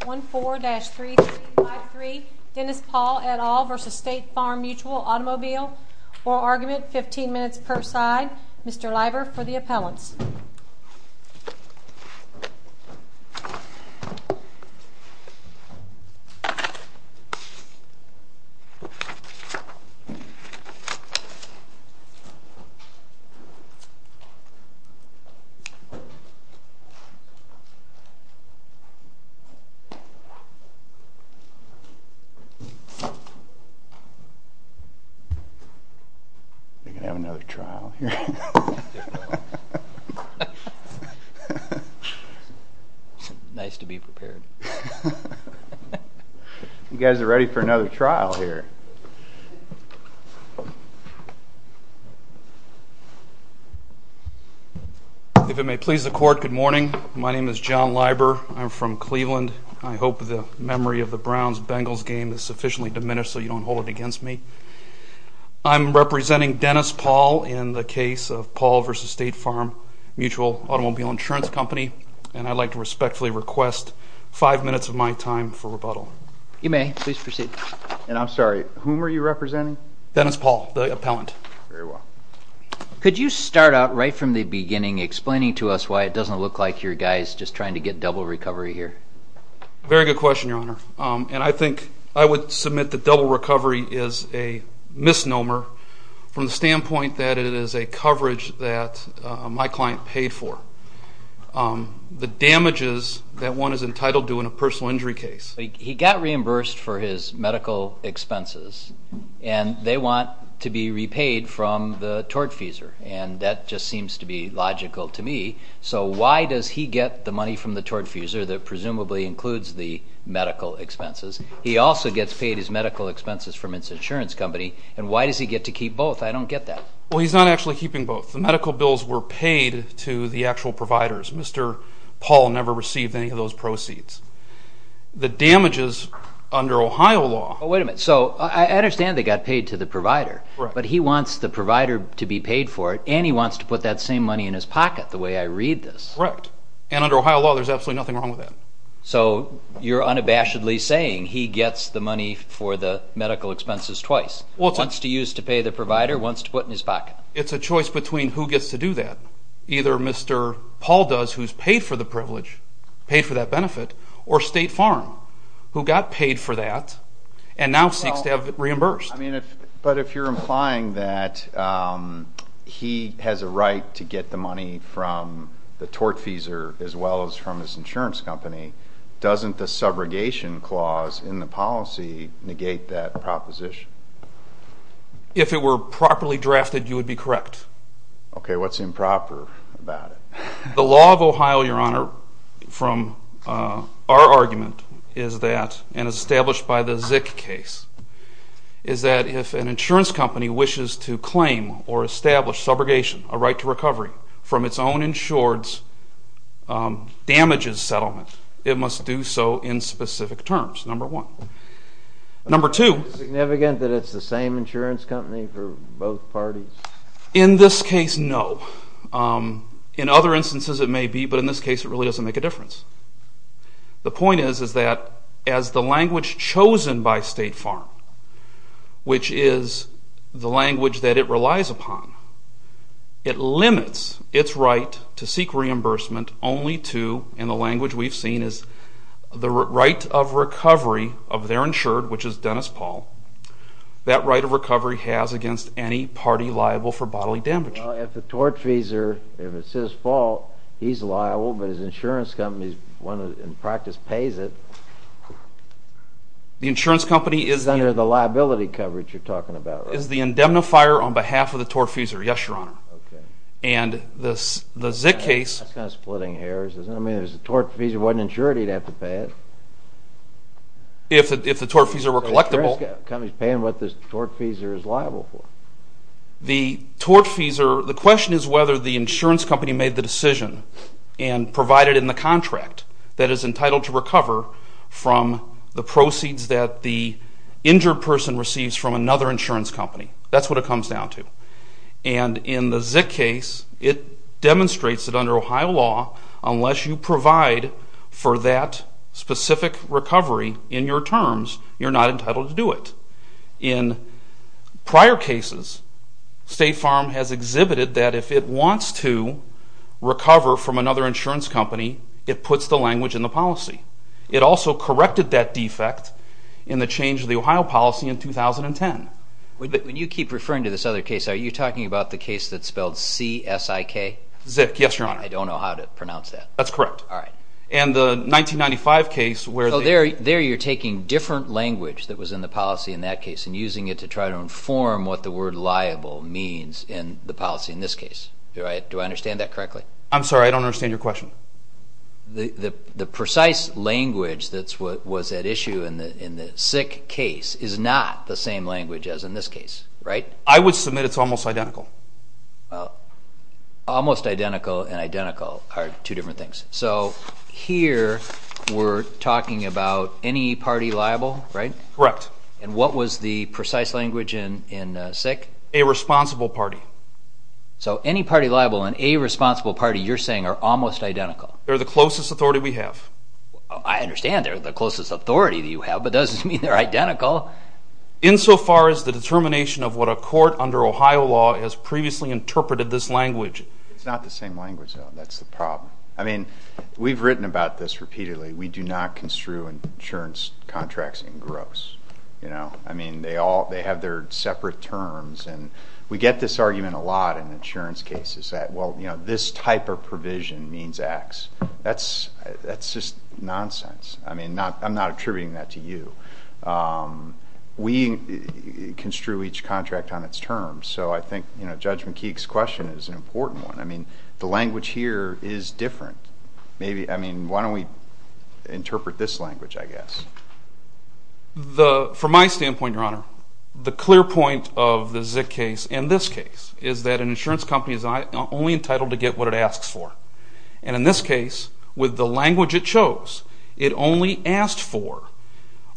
1-4-3-3-5-3 Dennis Paul et al. v. State Farm Mutual Automobile Oral Argument 15 minutes per side Mr. Leiber for the appellants You can have another trial here. Nice to be prepared. You guys are ready for another trial here. If it may please the court, good morning. My name is John Leiber. I'm from Cleveland. I hope the memory of the Browns-Bengals game is sufficiently diminished so you don't hold it against me. I'm representing Dennis Paul in the case of Paul v. State Farm Mutual Automobile Insurance Company and I'd like to respectfully request five minutes of my time for rebuttal. You may, please proceed. And I'm sorry, whom are you representing? Dennis Paul, the appellant. Very well. Could you start out right from the beginning explaining to us why it doesn't look like you're guys just trying to get double recovery here? Very good question, Your Honor. And I think I would submit that double recovery is a misnomer from the standpoint that it is a coverage that my client paid for. The damages that one is entitled to in a personal injury case. He got reimbursed for his medical expenses and they want to be repaid from the tortfeasor and that just seems to be logical to me. So why does he get the money from the tortfeasor that presumably includes the medical expenses? He also gets paid his medical expenses from his insurance company and why does he get to keep both? I don't get that. Well, he's not actually keeping both. The medical bills were paid to the actual providers. Mr. Paul never received any of those proceeds. The damages under Ohio law... Wait a minute. So I understand they got paid to the provider. But he wants the provider to be paid for it and he wants to put that same money in his pocket the way I read this. Correct. And under Ohio law there's absolutely nothing wrong with that. So you're unabashedly saying he gets the money for the medical expenses twice. Wants to use to pay the provider, wants to put in his pocket. It's a choice between who gets to do that. Either Mr. Paul does, who's paid for the privilege, paid for that benefit, or State Farm, who got paid for that and now seeks to have it reimbursed. But if you're implying that he has a right to get the money from the tortfeasor as well as from his insurance company, doesn't the subrogation clause in the policy negate that proposition? If it were properly drafted, you would be correct. Okay, what's improper about it? The law of Ohio, Your Honor, from our argument is that, and established by the Zik case, is that if an insurance company wishes to claim or establish subrogation, a right to recovery, from its own insured's damages settlement, it must do so in specific terms, number one. Number two. Is it significant that it's the same insurance company for both parties? In this case, no. In other instances it may be, but in this case it really doesn't make a difference. The point is that as the language chosen by State Farm, which is the language that it relies upon, it limits its right to seek reimbursement only to, in the language we've seen, the right of recovery of their insured, which is Dennis Paul, that right of recovery has against any party liable for bodily damage. Well, if the tortfeasor, if it's his fault, he's liable, but his insurance company in practice pays it. The insurance company is... Under the liability coverage you're talking about, right? Is the indemnifier on behalf of the tortfeasor, yes, Your Honor. Okay. And the Zik case... That's kind of splitting hairs, isn't it? I mean, if the tortfeasor wasn't insured, he'd have to pay it. If the tortfeasor were collectible... The company's paying what the tortfeasor is liable for. The tortfeasor, the question is whether the insurance company made the decision and provided in the contract that is entitled to recover from the proceeds that the injured person receives from another insurance company. That's what it comes down to. And in the Zik case, it demonstrates that under Ohio law, unless you provide for that specific recovery in your terms, you're not entitled to do it. In prior cases, State Farm has exhibited that if it wants to recover from another insurance company, it puts the language in the policy. It also corrected that defect in the change of the Ohio policy in 2010. When you keep referring to this other case, are you talking about the case that's spelled C-S-I-K? Zik, yes, Your Honor. I don't know how to pronounce that. That's correct. All right. And the 1995 case where they... So there you're taking different language that was in the policy in that case and using it to try to inform what the word liable means in the policy in this case. Do I understand that correctly? I'm sorry, I don't understand your question. The precise language that was at issue in the Zik case is not the same language as in this case, right? I would submit it's almost identical. Well, almost identical and identical are two different things. So here we're talking about any party liable, right? Correct. And what was the precise language in Zik? A responsible party. So any party liable and a responsible party you're saying are almost identical. They're the closest authority we have. I understand they're the closest authority you have, but it doesn't mean they're identical. Insofar as the determination of what a court under Ohio law has previously interpreted this language. It's not the same language, though. That's the problem. I mean, we've written about this repeatedly. We do not construe insurance contracts in gross. I mean, they have their separate terms. And we get this argument a lot in insurance cases that, well, this type of provision means X. That's just nonsense. I mean, I'm not attributing that to you. We construe each contract on its terms. So I think Judge McKeek's question is an important one. I mean, the language here is different. From my standpoint, Your Honor, the clear point of the Zik case and this case is that an insurance company is only entitled to get what it asks for. And in this case, with the language it chose, it only asked for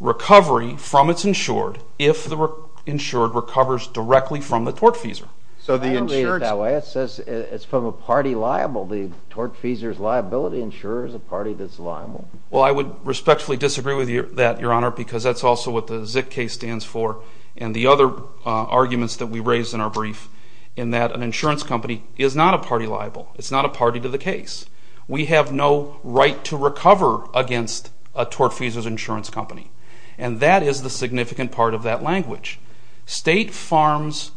recovery from its insured if the insured recovers directly from the tortfeasor. I don't read it that way. It says it's from a party liable. The tortfeasor's liability insurer is a party that's liable. Well, I would respectfully disagree with that, Your Honor, because that's also what the Zik case stands for and the other arguments that we raised in our brief in that an insurance company is not a party liable. It's not a party to the case. We have no right to recover against a tortfeasor's insurance company. And that is the significant part of that language. State farms'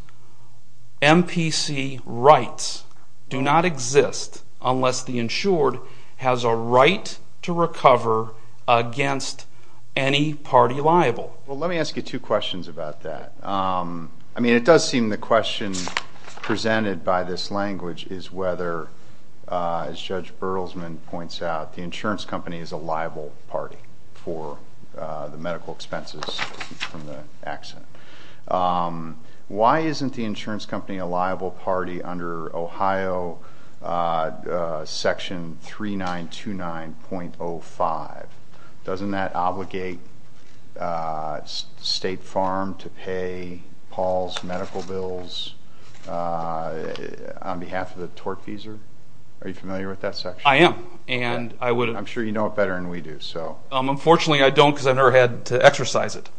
MPC rights do not exist unless the insured has a right to recover against any party liable. Well, let me ask you two questions about that. I mean, it does seem the question presented by this language is whether, as Judge Berlesman points out, the insurance company is a liable party for the medical expenses from the accident. Why isn't the insurance company a liable party under Ohio Section 3929.05? Doesn't that obligate State Farm to pay Paul's medical bills on behalf of the tortfeasor? Are you familiar with that section? I am. I'm sure you know it better than we do. Unfortunately, I don't because I've never had to exercise it.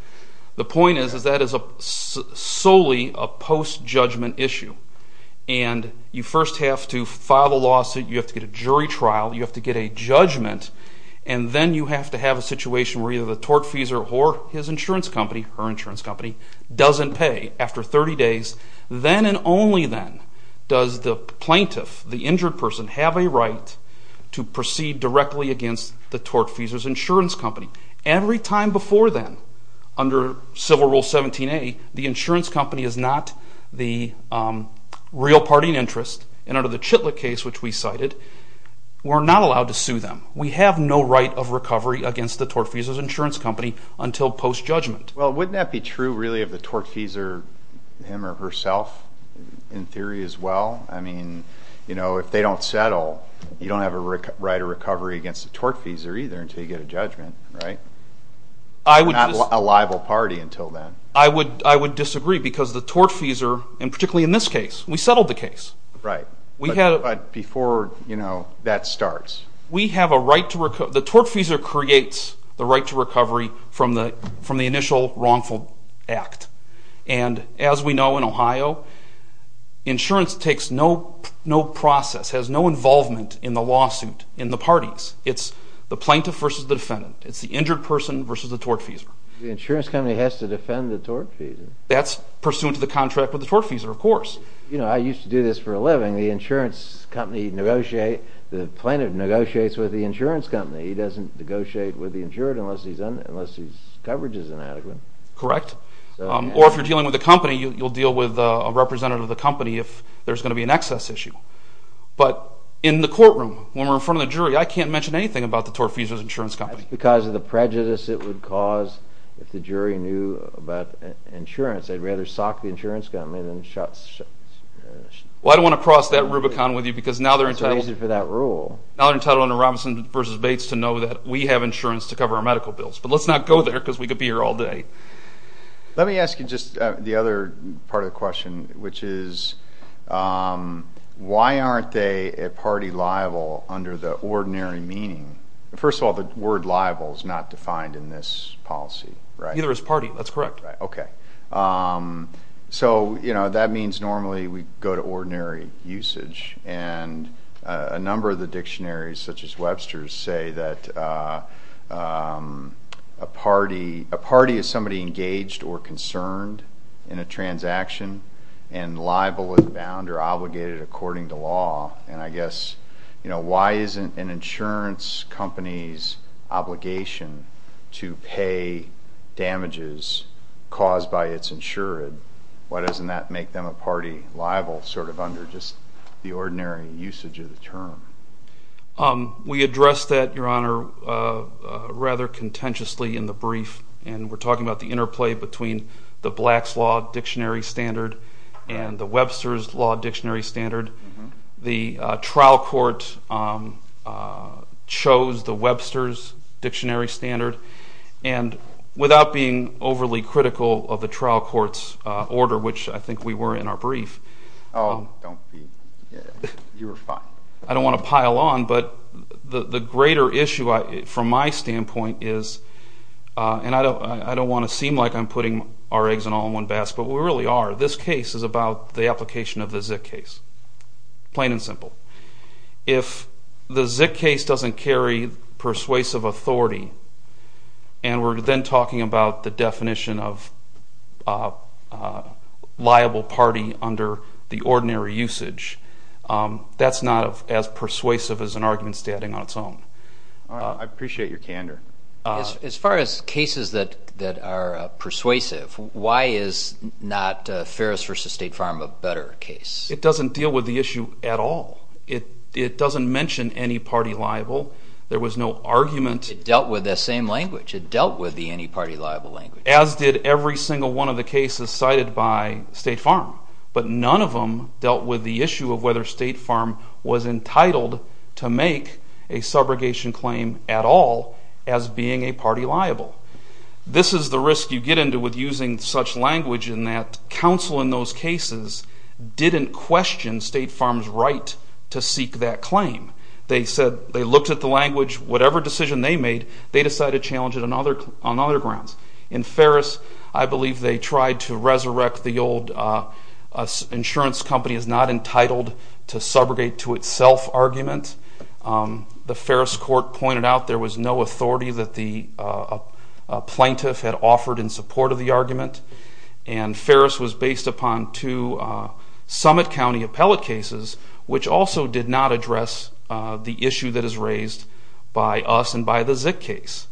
The point is that is solely a post-judgment issue, and you first have to file a lawsuit, you have to get a jury trial, you have to get a judgment, and then you have to have a situation where either the tortfeasor or his insurance company, her insurance company, doesn't pay after 30 days. Then and only then does the plaintiff, the injured person, have a right to proceed directly against the tortfeasor's insurance company. Every time before then, under Civil Rule 17A, the insurance company is not the real party in interest, and under the Chitlick case, which we cited, we're not allowed to sue them. We have no right of recovery against the tortfeasor's insurance company until post-judgment. Well, wouldn't that be true, really, of the tortfeasor, him or herself, in theory as well? I mean, if they don't settle, you don't have a right of recovery against the tortfeasor either until you get a judgment, right? We're not a liable party until then. I would disagree because the tortfeasor, and particularly in this case, we settled the case. Right, but before that starts. The tortfeasor creates the right to recovery from the initial wrongful act, and as we know in Ohio, insurance takes no process, has no involvement in the lawsuit, in the parties. It's the plaintiff versus the defendant. It's the injured person versus the tortfeasor. The insurance company has to defend the tortfeasor. That's pursuant to the contract with the tortfeasor, of course. You know, I used to do this for a living. The insurance company negotiates, the plaintiff negotiates with the insurance company. He doesn't negotiate with the insured unless his coverage is inadequate. Correct. Or if you're dealing with a company, you'll deal with a representative of the company if there's going to be an excess issue. But in the courtroom, when we're in front of the jury, I can't mention anything about the tortfeasor's insurance company. That's because of the prejudice it would cause if the jury knew about insurance. They'd rather sock the insurance company than shot the insurance company. Well, I don't want to cross that Rubicon with you because now they're entitled to know that we have insurance to cover our medical bills. But let's not go there because we could be here all day. Let me ask you just the other part of the question, which is why aren't they a party liable under the ordinary meaning? First of all, the word liable is not defined in this policy, right? Neither is party. That's correct. Okay. So, you know, that means normally we go to ordinary usage. And a number of the dictionaries, such as Webster's, say that a party is somebody engaged or concerned in a transaction and liable and bound or obligated according to law. And I guess, you know, why isn't an insurance company's obligation to pay damages caused by its insured? Why doesn't that make them a party liable sort of under just the ordinary usage of the term? We addressed that, Your Honor, rather contentiously in the brief. And we're talking about the interplay between the Black's Law Dictionary Standard and the Webster's Law Dictionary Standard. The trial court chose the Webster's Dictionary Standard. And without being overly critical of the trial court's order, which I think we were in our brief. Oh, don't be. You were fine. I don't want to pile on, but the greater issue from my standpoint is, and I don't want to seem like I'm putting our eggs in all one basket, but we really are. This case is about the application of the Zik case, plain and simple. If the Zik case doesn't carry persuasive authority, and we're then talking about the definition of liable party under the ordinary usage, that's not as persuasive as an argument standing on its own. I appreciate your candor. As far as cases that are persuasive, why is not Ferris v. State Farm a better case? It doesn't deal with the issue at all. It doesn't mention any party liable. There was no argument. It dealt with that same language. It dealt with the any party liable language. As did every single one of the cases cited by State Farm. But none of them dealt with the issue of whether State Farm was entitled to make a subrogation claim at all as being a party liable. This is the risk you get into with using such language in that counsel in those cases didn't question State Farm's right to seek that claim. They said they looked at the language. Whatever decision they made, they decided to challenge it on other grounds. In Ferris, I believe they tried to resurrect the old insurance company is not entitled to subrogate to itself argument. The Ferris court pointed out there was no authority that the plaintiff had offered in support of the argument. Ferris was based upon two Summit County appellate cases, which also did not address the issue that is raised by us and by the Zik case.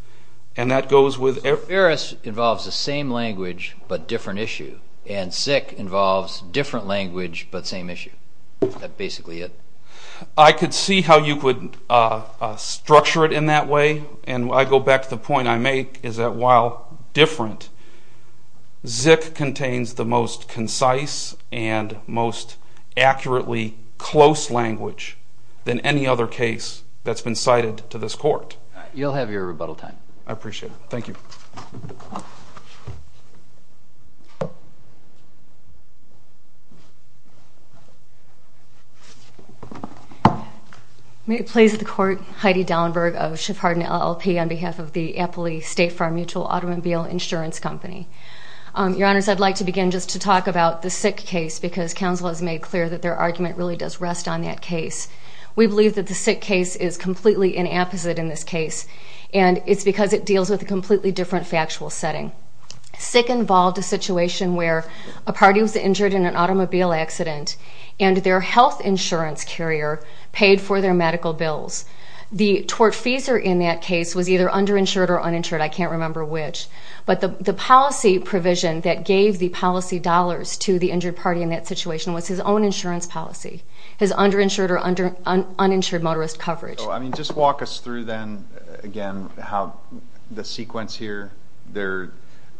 Ferris involves the same language but different issue, and Zik involves different language but same issue. That's basically it. I could see how you could structure it in that way, and I go back to the point I make is that while different, Zik contains the most concise and most accurately close language than any other case that's been cited to this court. You'll have your rebuttal time. I appreciate it. Thank you. May it please the court, Heidi Dauenberg of Shephard and LLP on behalf of the Appley State Farm Mutual Automobile Insurance Company. Your Honors, I'd like to begin just to talk about the Zik case because counsel has made clear that their argument really does rest on that case. We believe that the Zik case is completely inapposite in this case, and it's because it deals with a completely different factual setting. Zik involved a situation where a party was injured in an automobile accident and their health insurance carrier paid for their medical bills. The tortfeasor in that case was either underinsured or uninsured, I can't remember which, but the policy provision that gave the policy dollars to the injured party in that situation was his own insurance policy, his underinsured or uninsured motorist coverage. I mean, just walk us through then again how the sequence here,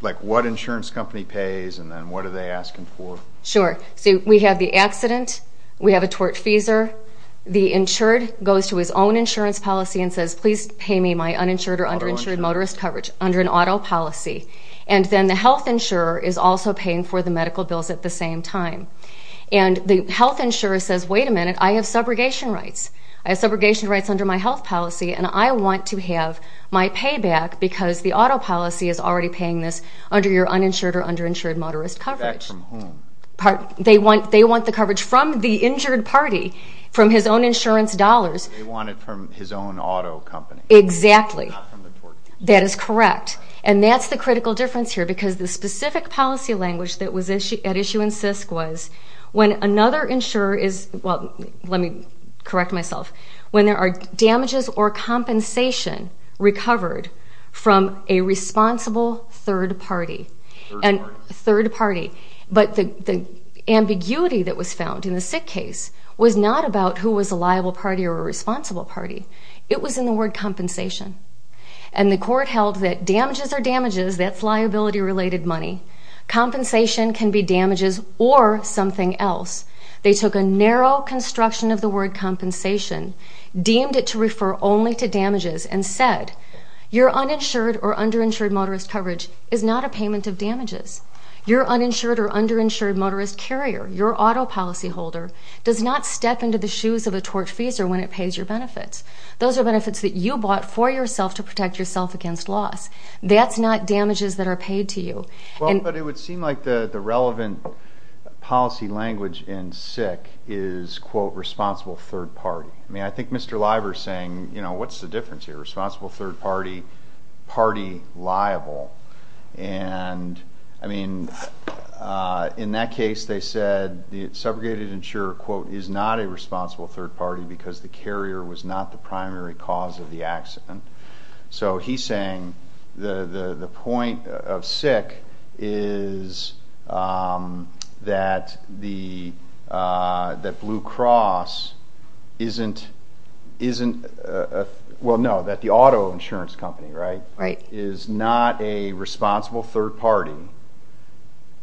like what insurance company pays and then what are they asking for? Sure. So we have the accident, we have a tortfeasor, the insured goes to his own insurance policy and says, please pay me my uninsured or underinsured motorist coverage under an auto policy. And then the health insurer is also paying for the medical bills at the same time. And the health insurer says, wait a minute, I have subrogation rights. I have subrogation rights under my health policy and I want to have my payback because the auto policy is already paying this under your uninsured or underinsured motorist coverage. Payback from whom? They want the coverage from the injured party, from his own insurance dollars. They want it from his own auto company. Exactly. Not from the tortfeasor. That is correct. And that's the critical difference here because the specific policy language that was at issue in SISC was when another insurer is, well, let me correct myself, when there are damages or compensation recovered from a responsible third party. Third party. Third party. But the ambiguity that was found in the SISC case was not about who was a liable party or a responsible party. It was in the word compensation. And the court held that damages are damages, that's liability-related money. Compensation can be damages or something else. They took a narrow construction of the word compensation, deemed it to refer only to damages, and said your uninsured or underinsured motorist coverage is not a payment of damages. Your uninsured or underinsured motorist carrier, your auto policyholder, does not step into the shoes of a tortfeasor when it pays your benefits. Those are benefits that you bought for yourself to protect yourself against loss. That's not damages that are paid to you. Well, but it would seem like the relevant policy language in SISC is, quote, responsible third party. I mean, I think Mr. Liver is saying, you know, what's the difference here? Responsible third party, party liable. And, I mean, in that case they said the segregated insurer, quote, is not a responsible third party because the carrier was not the primary cause of the accident. So he's saying the point of SISC is that Blue Cross isn't, well, no, that the auto insurance company, right, is not a responsible third party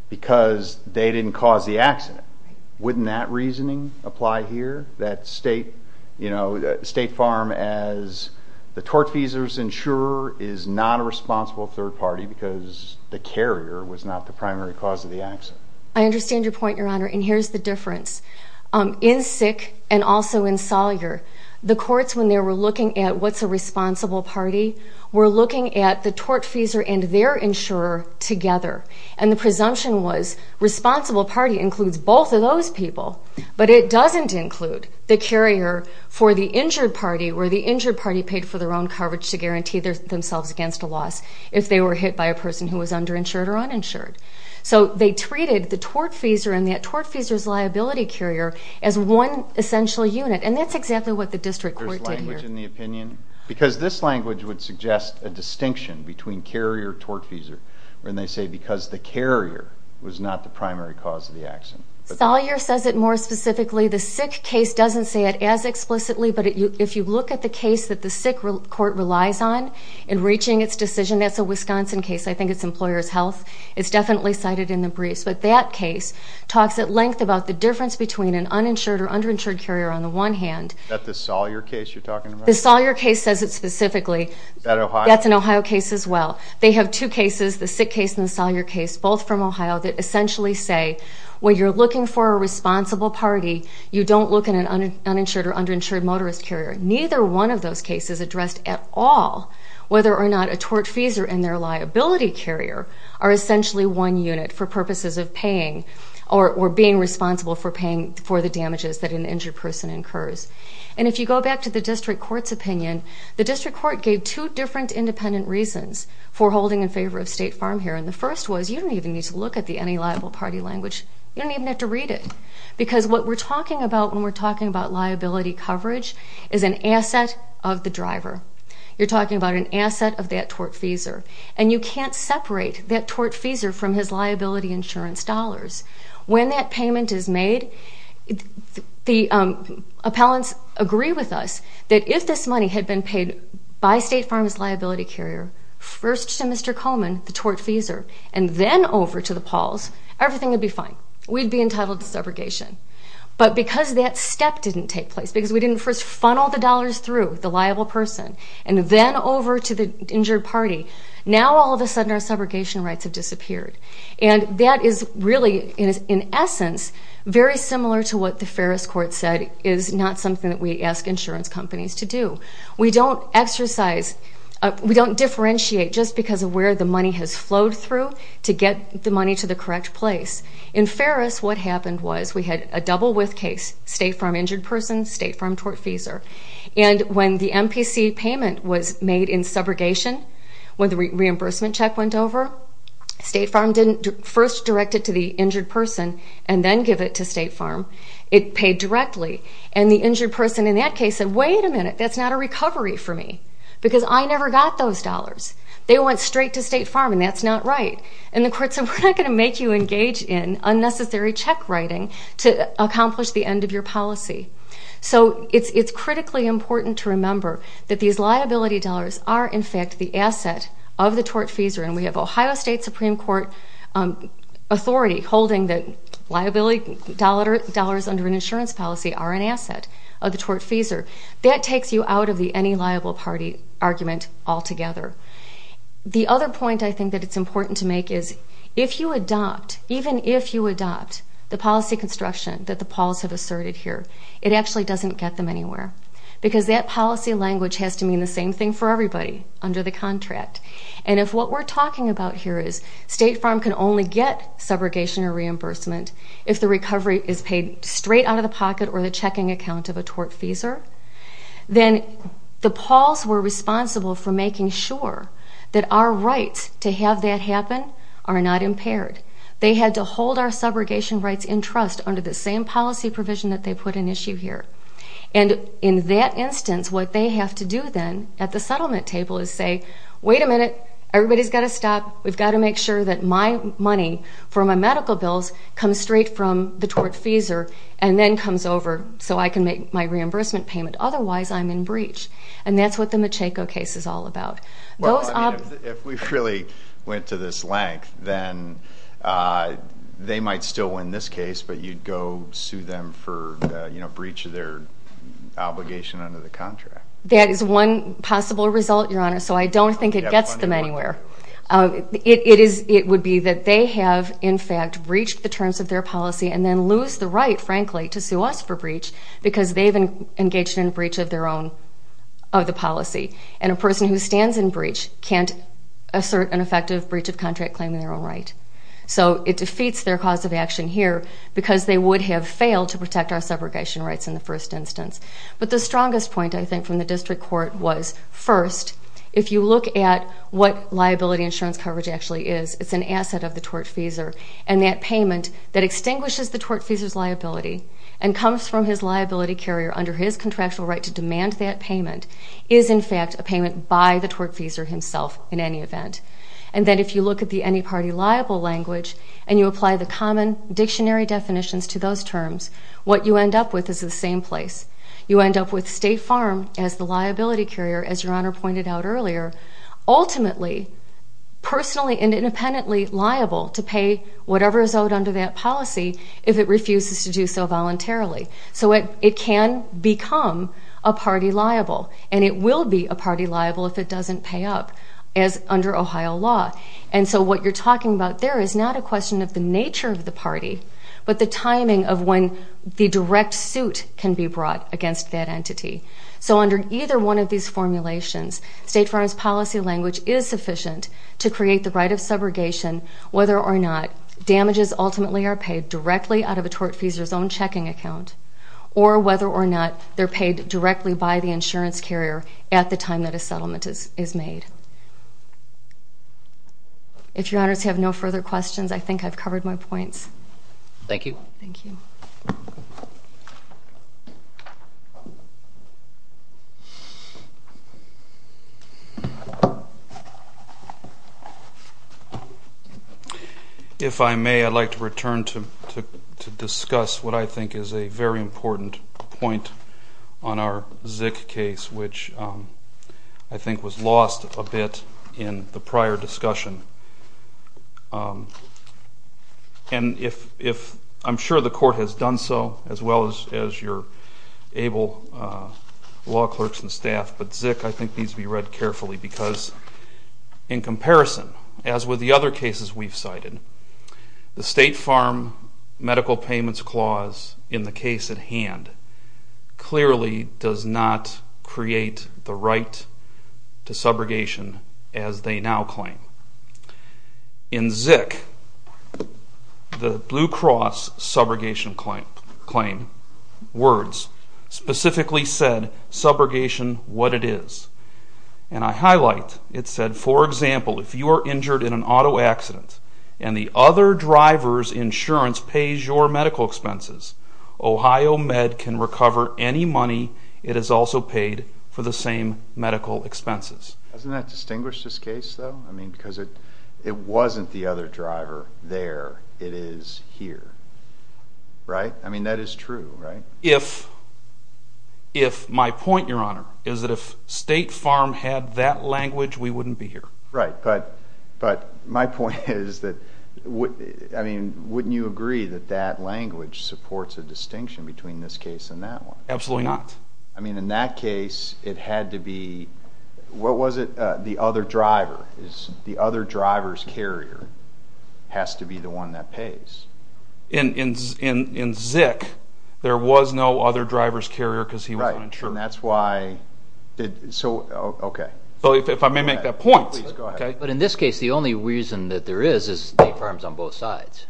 because they didn't cause the accident. Wouldn't that reasoning apply here? That state, you know, State Farm as the tortfeasor's insurer is not a responsible third party because the carrier was not the primary cause of the accident. I understand your point, Your Honor, and here's the difference. In SISC and also in Sawyer, the courts, when they were looking at what's a responsible party, were looking at the tortfeasor and their insurer together. And the presumption was responsible party includes both of those people, but it doesn't include the carrier for the injured party where the injured party paid for their own coverage to guarantee themselves against a loss if they were hit by a person who was underinsured or uninsured. So they treated the tortfeasor and that tortfeasor's liability carrier as one essential unit, and that's exactly what the district court did here. There's language in the opinion? Because this language would suggest a distinction between carrier and tortfeasor when they say because the carrier was not the primary cause of the accident. Sawyer says it more specifically. The SISC case doesn't say it as explicitly, but if you look at the case that the SISC court relies on in reaching its decision, that's a Wisconsin case. I think it's employer's health. It's definitely cited in the briefs, but that case talks at length about the difference between an uninsured or underinsured carrier on the one hand. Is that the Sawyer case you're talking about? The Sawyer case says it specifically. Is that Ohio? That's an Ohio case as well. They have two cases, the SISC case and the Sawyer case, both from Ohio that essentially say when you're looking for a responsible party, you don't look at an uninsured or underinsured motorist carrier. Neither one of those cases addressed at all whether or not a tortfeasor and their liability carrier are essentially one unit for purposes of paying or being responsible for paying for the damages that an injured person incurs. And if you go back to the district court's opinion, the district court gave two different independent reasons for holding in favor of State Farm here, and the first was you don't even need to look at the any liable party language. You don't even have to read it because what we're talking about when we're talking about liability coverage is an asset of the driver. You're talking about an asset of that tortfeasor, and you can't separate that tortfeasor from his liability insurance dollars. When that payment is made, the appellants agree with us that if this money had been paid by State Farm's liability carrier, first to Mr. Coleman, the tortfeasor, and then over to the Pauls, everything would be fine. We'd be entitled to subrogation. But because that step didn't take place, because we didn't first funnel the dollars through the liable person and then over to the injured party, now all of a sudden our subrogation rights have disappeared. And that is really, in essence, very similar to what the Ferris Court said is not something that we ask insurance companies to do. We don't exercise, we don't differentiate just because of where the money has flowed through to get the money to the correct place. In Ferris, what happened was we had a double-with case, State Farm injured person, State Farm tortfeasor. And when the MPC payment was made in subrogation, when the reimbursement check went over, State Farm didn't first direct it to the injured person and then give it to State Farm. It paid directly. And the injured person in that case said, Wait a minute, that's not a recovery for me because I never got those dollars. They went straight to State Farm, and that's not right. And the court said, We're not going to make you engage in unnecessary check writing to accomplish the end of your policy. So it's critically important to remember that these liability dollars are, in fact, the asset of the tortfeasor. And we have Ohio State Supreme Court authority holding that liability dollars under an insurance policy are an asset of the tortfeasor. That takes you out of the any liable party argument altogether. The other point I think that it's important to make is, if you adopt, even if you adopt, the policy construction that the Pauls have asserted here, it actually doesn't get them anywhere because that policy language has to mean the same thing for everybody under the contract. And if what we're talking about here is State Farm can only get subrogation or reimbursement if the recovery is paid straight out of the pocket or the checking account of a tortfeasor, then the Pauls were responsible for making sure that our rights to have that happen are not impaired. They had to hold our subrogation rights in trust under the same policy provision that they put in issue here. And in that instance, what they have to do then at the settlement table is say, wait a minute, everybody's got to stop. We've got to make sure that my money for my medical bills comes straight from the tortfeasor and then comes over so I can make my reimbursement payment. Otherwise, I'm in breach. And that's what the Macheco case is all about. Well, I mean, if we really went to this length, then they might still win this case, but you'd go sue them for, you know, breach of their obligation under the contract. That is one possible result, Your Honor. So I don't think it gets them anywhere. It would be that they have, in fact, breached the terms of their policy and then lose the right, frankly, to sue us for breach because they've engaged in a breach of their own policy. And a person who stands in breach can't assert an effective breach of contract claiming their own right. So it defeats their cause of action here because they would have failed to protect our subrogation rights in the first instance. But the strongest point, I think, from the district court was, first, if you look at what liability insurance coverage actually is, it's an asset of the tortfeasor, and that payment that extinguishes the tortfeasor's liability and comes from his liability carrier under his contractual right to demand that payment is, in fact, a payment by the tortfeasor himself in any event. And then if you look at the any-party liable language and you apply the common dictionary definitions to those terms, what you end up with is the same place. You end up with State Farm as the liability carrier, as Your Honor pointed out earlier, ultimately personally and independently liable to pay whatever is owed under that policy if it refuses to do so voluntarily. So it can become a party liable, and it will be a party liable if it doesn't pay up, as under Ohio law. And so what you're talking about there is not a question of the nature of the party but the timing of when the direct suit can be brought against that entity. So under either one of these formulations, State Farm's policy language is sufficient to create the right of subrogation whether or not damages ultimately are paid directly out of a tortfeasor's own checking account or whether or not they're paid directly by the insurance carrier at the time that a settlement is made. If Your Honors have no further questions, I think I've covered my points. Thank you. Thank you. If I may, I'd like to return to discuss what I think is a very important point on our Zik case, which I think was lost a bit in the prior discussion. And I'm sure the Court has done so as well as your able law clerks and staff, but Zik I think needs to be read carefully because in comparison, as with the other cases we've cited, the State Farm Medical Payments Clause in the case at hand clearly does not create the right to subrogation as they now claim. In Zik, the Blue Cross subrogation claim words specifically said, subrogation what it is. And I highlight, it said, for example, if you are injured in an auto accident and the other driver's insurance pays your medical expenses, Ohio Med can recover any money it has also paid for the same medical expenses. Doesn't that distinguish this case, though? I mean, because it wasn't the other driver there. It is here, right? I mean, that is true, right? If my point, Your Honor, is that if State Farm had that language, we wouldn't be here. Right, but my point is that, I mean, wouldn't you agree that that language supports a distinction between this case and that one? Absolutely not. I mean, in that case, it had to be, what was it, the other driver. The other driver's carrier has to be the one that pays. In Zik, there was no other driver's carrier because he was uninsured. Right, and that's why, so, okay. If I may make that point. Please go ahead. But in this case, the only reason that there is is State Farm's on both sides.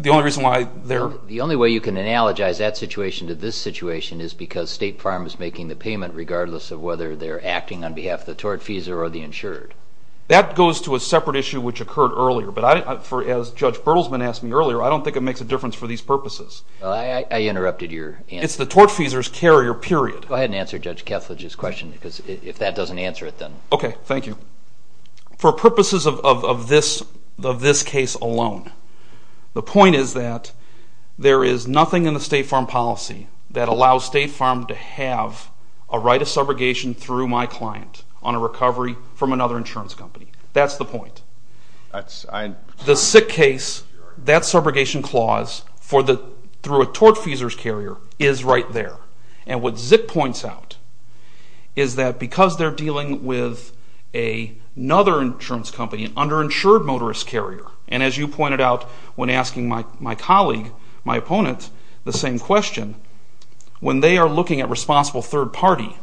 The only reason why they're... The only way you can analogize that situation to this situation is because State Farm is making the payment regardless of whether they're acting on behalf of the tortfeasor or the insured. That goes to a separate issue which occurred earlier, but as Judge Bertelsmann asked me earlier, I don't think it makes a difference for these purposes. I interrupted your answer. It's the tortfeasor's carrier, period. Go ahead and answer Judge Kethledge's question because if that doesn't answer it, then... Okay, thank you. For purposes of this case alone, the point is that there is nothing in the State Farm policy that allows State Farm to have a right of subrogation through my client on a recovery from another insurance company. That's the point. The sick case, that subrogation clause, through a tortfeasor's carrier, is right there. And what Zip points out is that because they're dealing with another insurance company, an underinsured motorist carrier, and as you pointed out when asking my colleague, my opponent, the same question, when they are looking at responsible third party,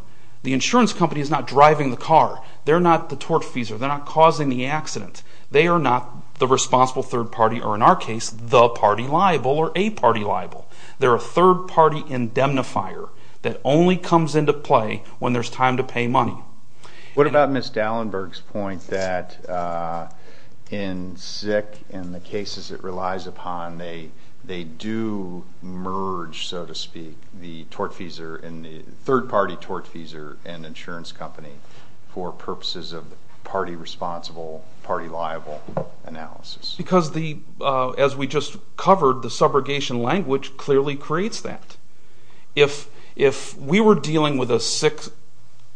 the insurance company is not driving the car. They're not the tortfeasor. They're not causing the accident. They are not the responsible third party, or in our case, the party liable or a party liable. They're a third party indemnifier that only comes into play when there's time to pay money. What about Ms. Dallenberg's point that in sick, in the cases it relies upon, they do merge, so to speak, the third party tortfeasor and insurance company for purposes of party responsible, party liable analysis? Because as we just covered, the subrogation language clearly creates that. If we were dealing with a sick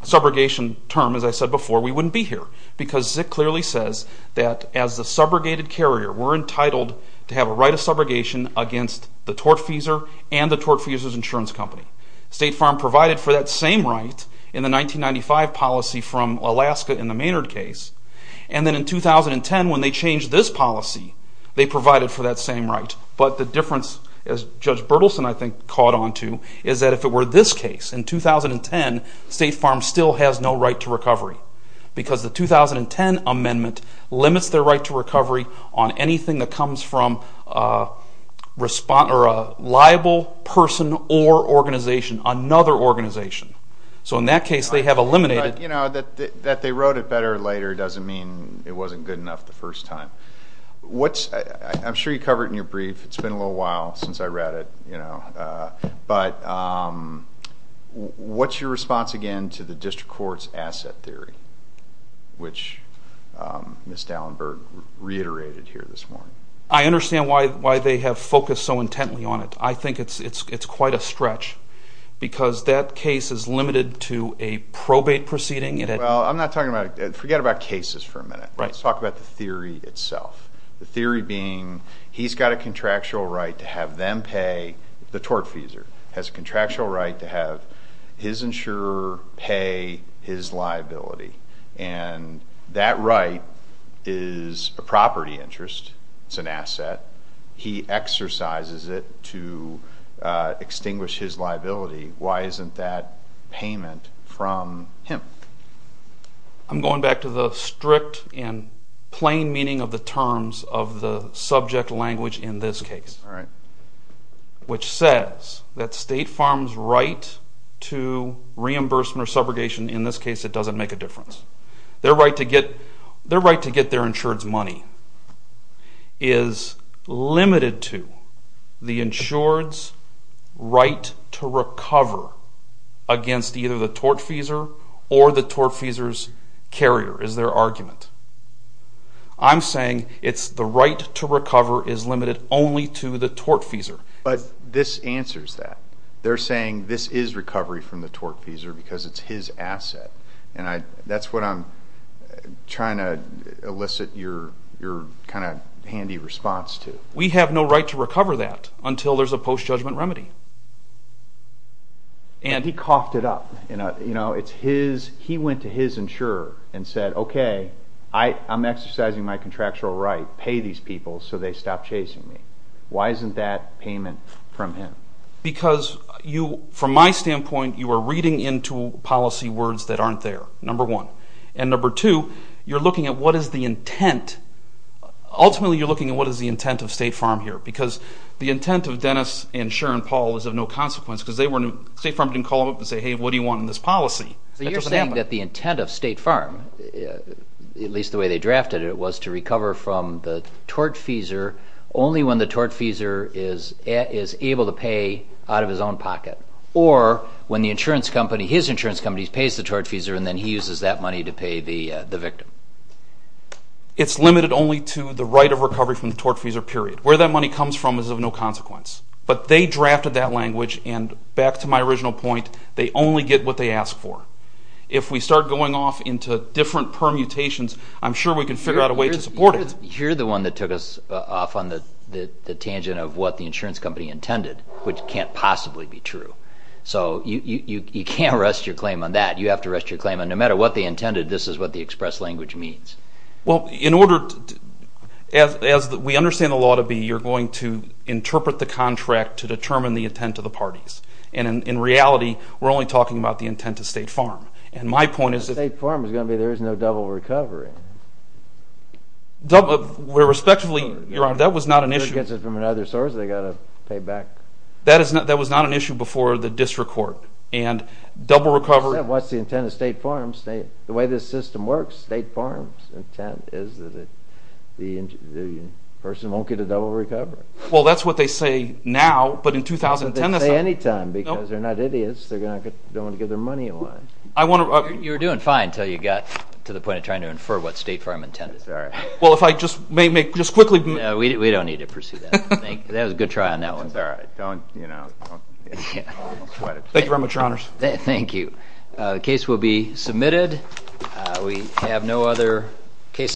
subrogation term, as I said before, we wouldn't be here because Zip clearly says that as a subrogated carrier, we're entitled to have a right of subrogation against the tortfeasor and the tortfeasor's insurance company. State Farm provided for that same right in the 1995 policy from Alaska in the Maynard case. And then in 2010, when they changed this policy, they provided for that same right. But the difference, as Judge Berthelsen, I think, caught on to, is that if it were this case in 2010, because the 2010 amendment limits their right to recovery on anything that comes from a liable person or organization, another organization. So in that case, they have eliminated... You know, that they wrote it better later doesn't mean it wasn't good enough the first time. I'm sure you covered it in your brief. It's been a little while since I read it. But what's your response, again, to the district court's asset theory, which Ms. Dallenberg reiterated here this morning? I understand why they have focused so intently on it. I think it's quite a stretch, because that case is limited to a probate proceeding. Well, I'm not talking about... Forget about cases for a minute. Let's talk about the theory itself, the theory being he's got a contractual right to have them pay, the tortfeasor has a contractual right to have his insurer pay his liability. And that right is a property interest. It's an asset. He exercises it to extinguish his liability. Why isn't that payment from him? I'm going back to the strict and plain meaning of the terms of the subject language in this case, which says that State Farm's right to reimbursement or subrogation, in this case, it doesn't make a difference. Their right to get their insured's money is limited to the insured's right to recover against either the tortfeasor or the tortfeasor's carrier, is their argument. I'm saying it's the right to recover is limited only to the tortfeasor. But this answers that. They're saying this is recovery from the tortfeasor because it's his asset. And that's what I'm trying to elicit your kind of handy response to. We have no right to recover that until there's a post-judgment remedy. He coughed it up. He went to his insurer and said, okay, I'm exercising my contractual right. Pay these people so they stop chasing me. Why isn't that payment from him? Because from my standpoint, you are reading into policy words that aren't there, number one. And number two, you're looking at what is the intent. Ultimately, you're looking at what is the intent of State Farm here because the intent of Dennis and Sharon Paul is of no consequence because State Farm didn't call them up and say, hey, what do you want in this policy? You're saying that the intent of State Farm, at least the way they drafted it, was to recover from the tortfeasor only when the tortfeasor is able to pay out of his own pocket or when the insurance company, his insurance company, pays the tortfeasor and then he uses that money to pay the victim. It's limited only to the right of recovery from the tortfeasor, period. Where that money comes from is of no consequence. But they drafted that language, and back to my original point, they only get what they ask for. If we start going off into different permutations, I'm sure we can figure out a way to support it. You're the one that took us off on the tangent of what the insurance company intended, which can't possibly be true. So you can't rest your claim on that. You have to rest your claim on no matter what they intended, this is what the express language means. Well, in order to, as we understand the law to be, you're going to interpret the contract to determine the intent of the parties. And in reality, we're only talking about the intent of State Farm. And my point is that... State Farm is going to be there is no double recovery. Respectfully, Your Honor, that was not an issue. Who gets it from another source, they've got to pay back. That was not an issue before the district court. And double recovery... What's the intent of State Farm? The way this system works, State Farm's intent is that the person won't get a double recovery. Well, that's what they say now, but in 2010... They say any time because they're not idiots, they don't want to give their money away. You were doing fine until you got to the point of trying to infer what State Farm intended. Well, if I just may make, just quickly... No, we don't need to pursue that. That was a good try on that one. All right, don't, you know, don't sweat it. Thank you very much, Your Honors. Thank you. The case will be submitted. We have no other cases...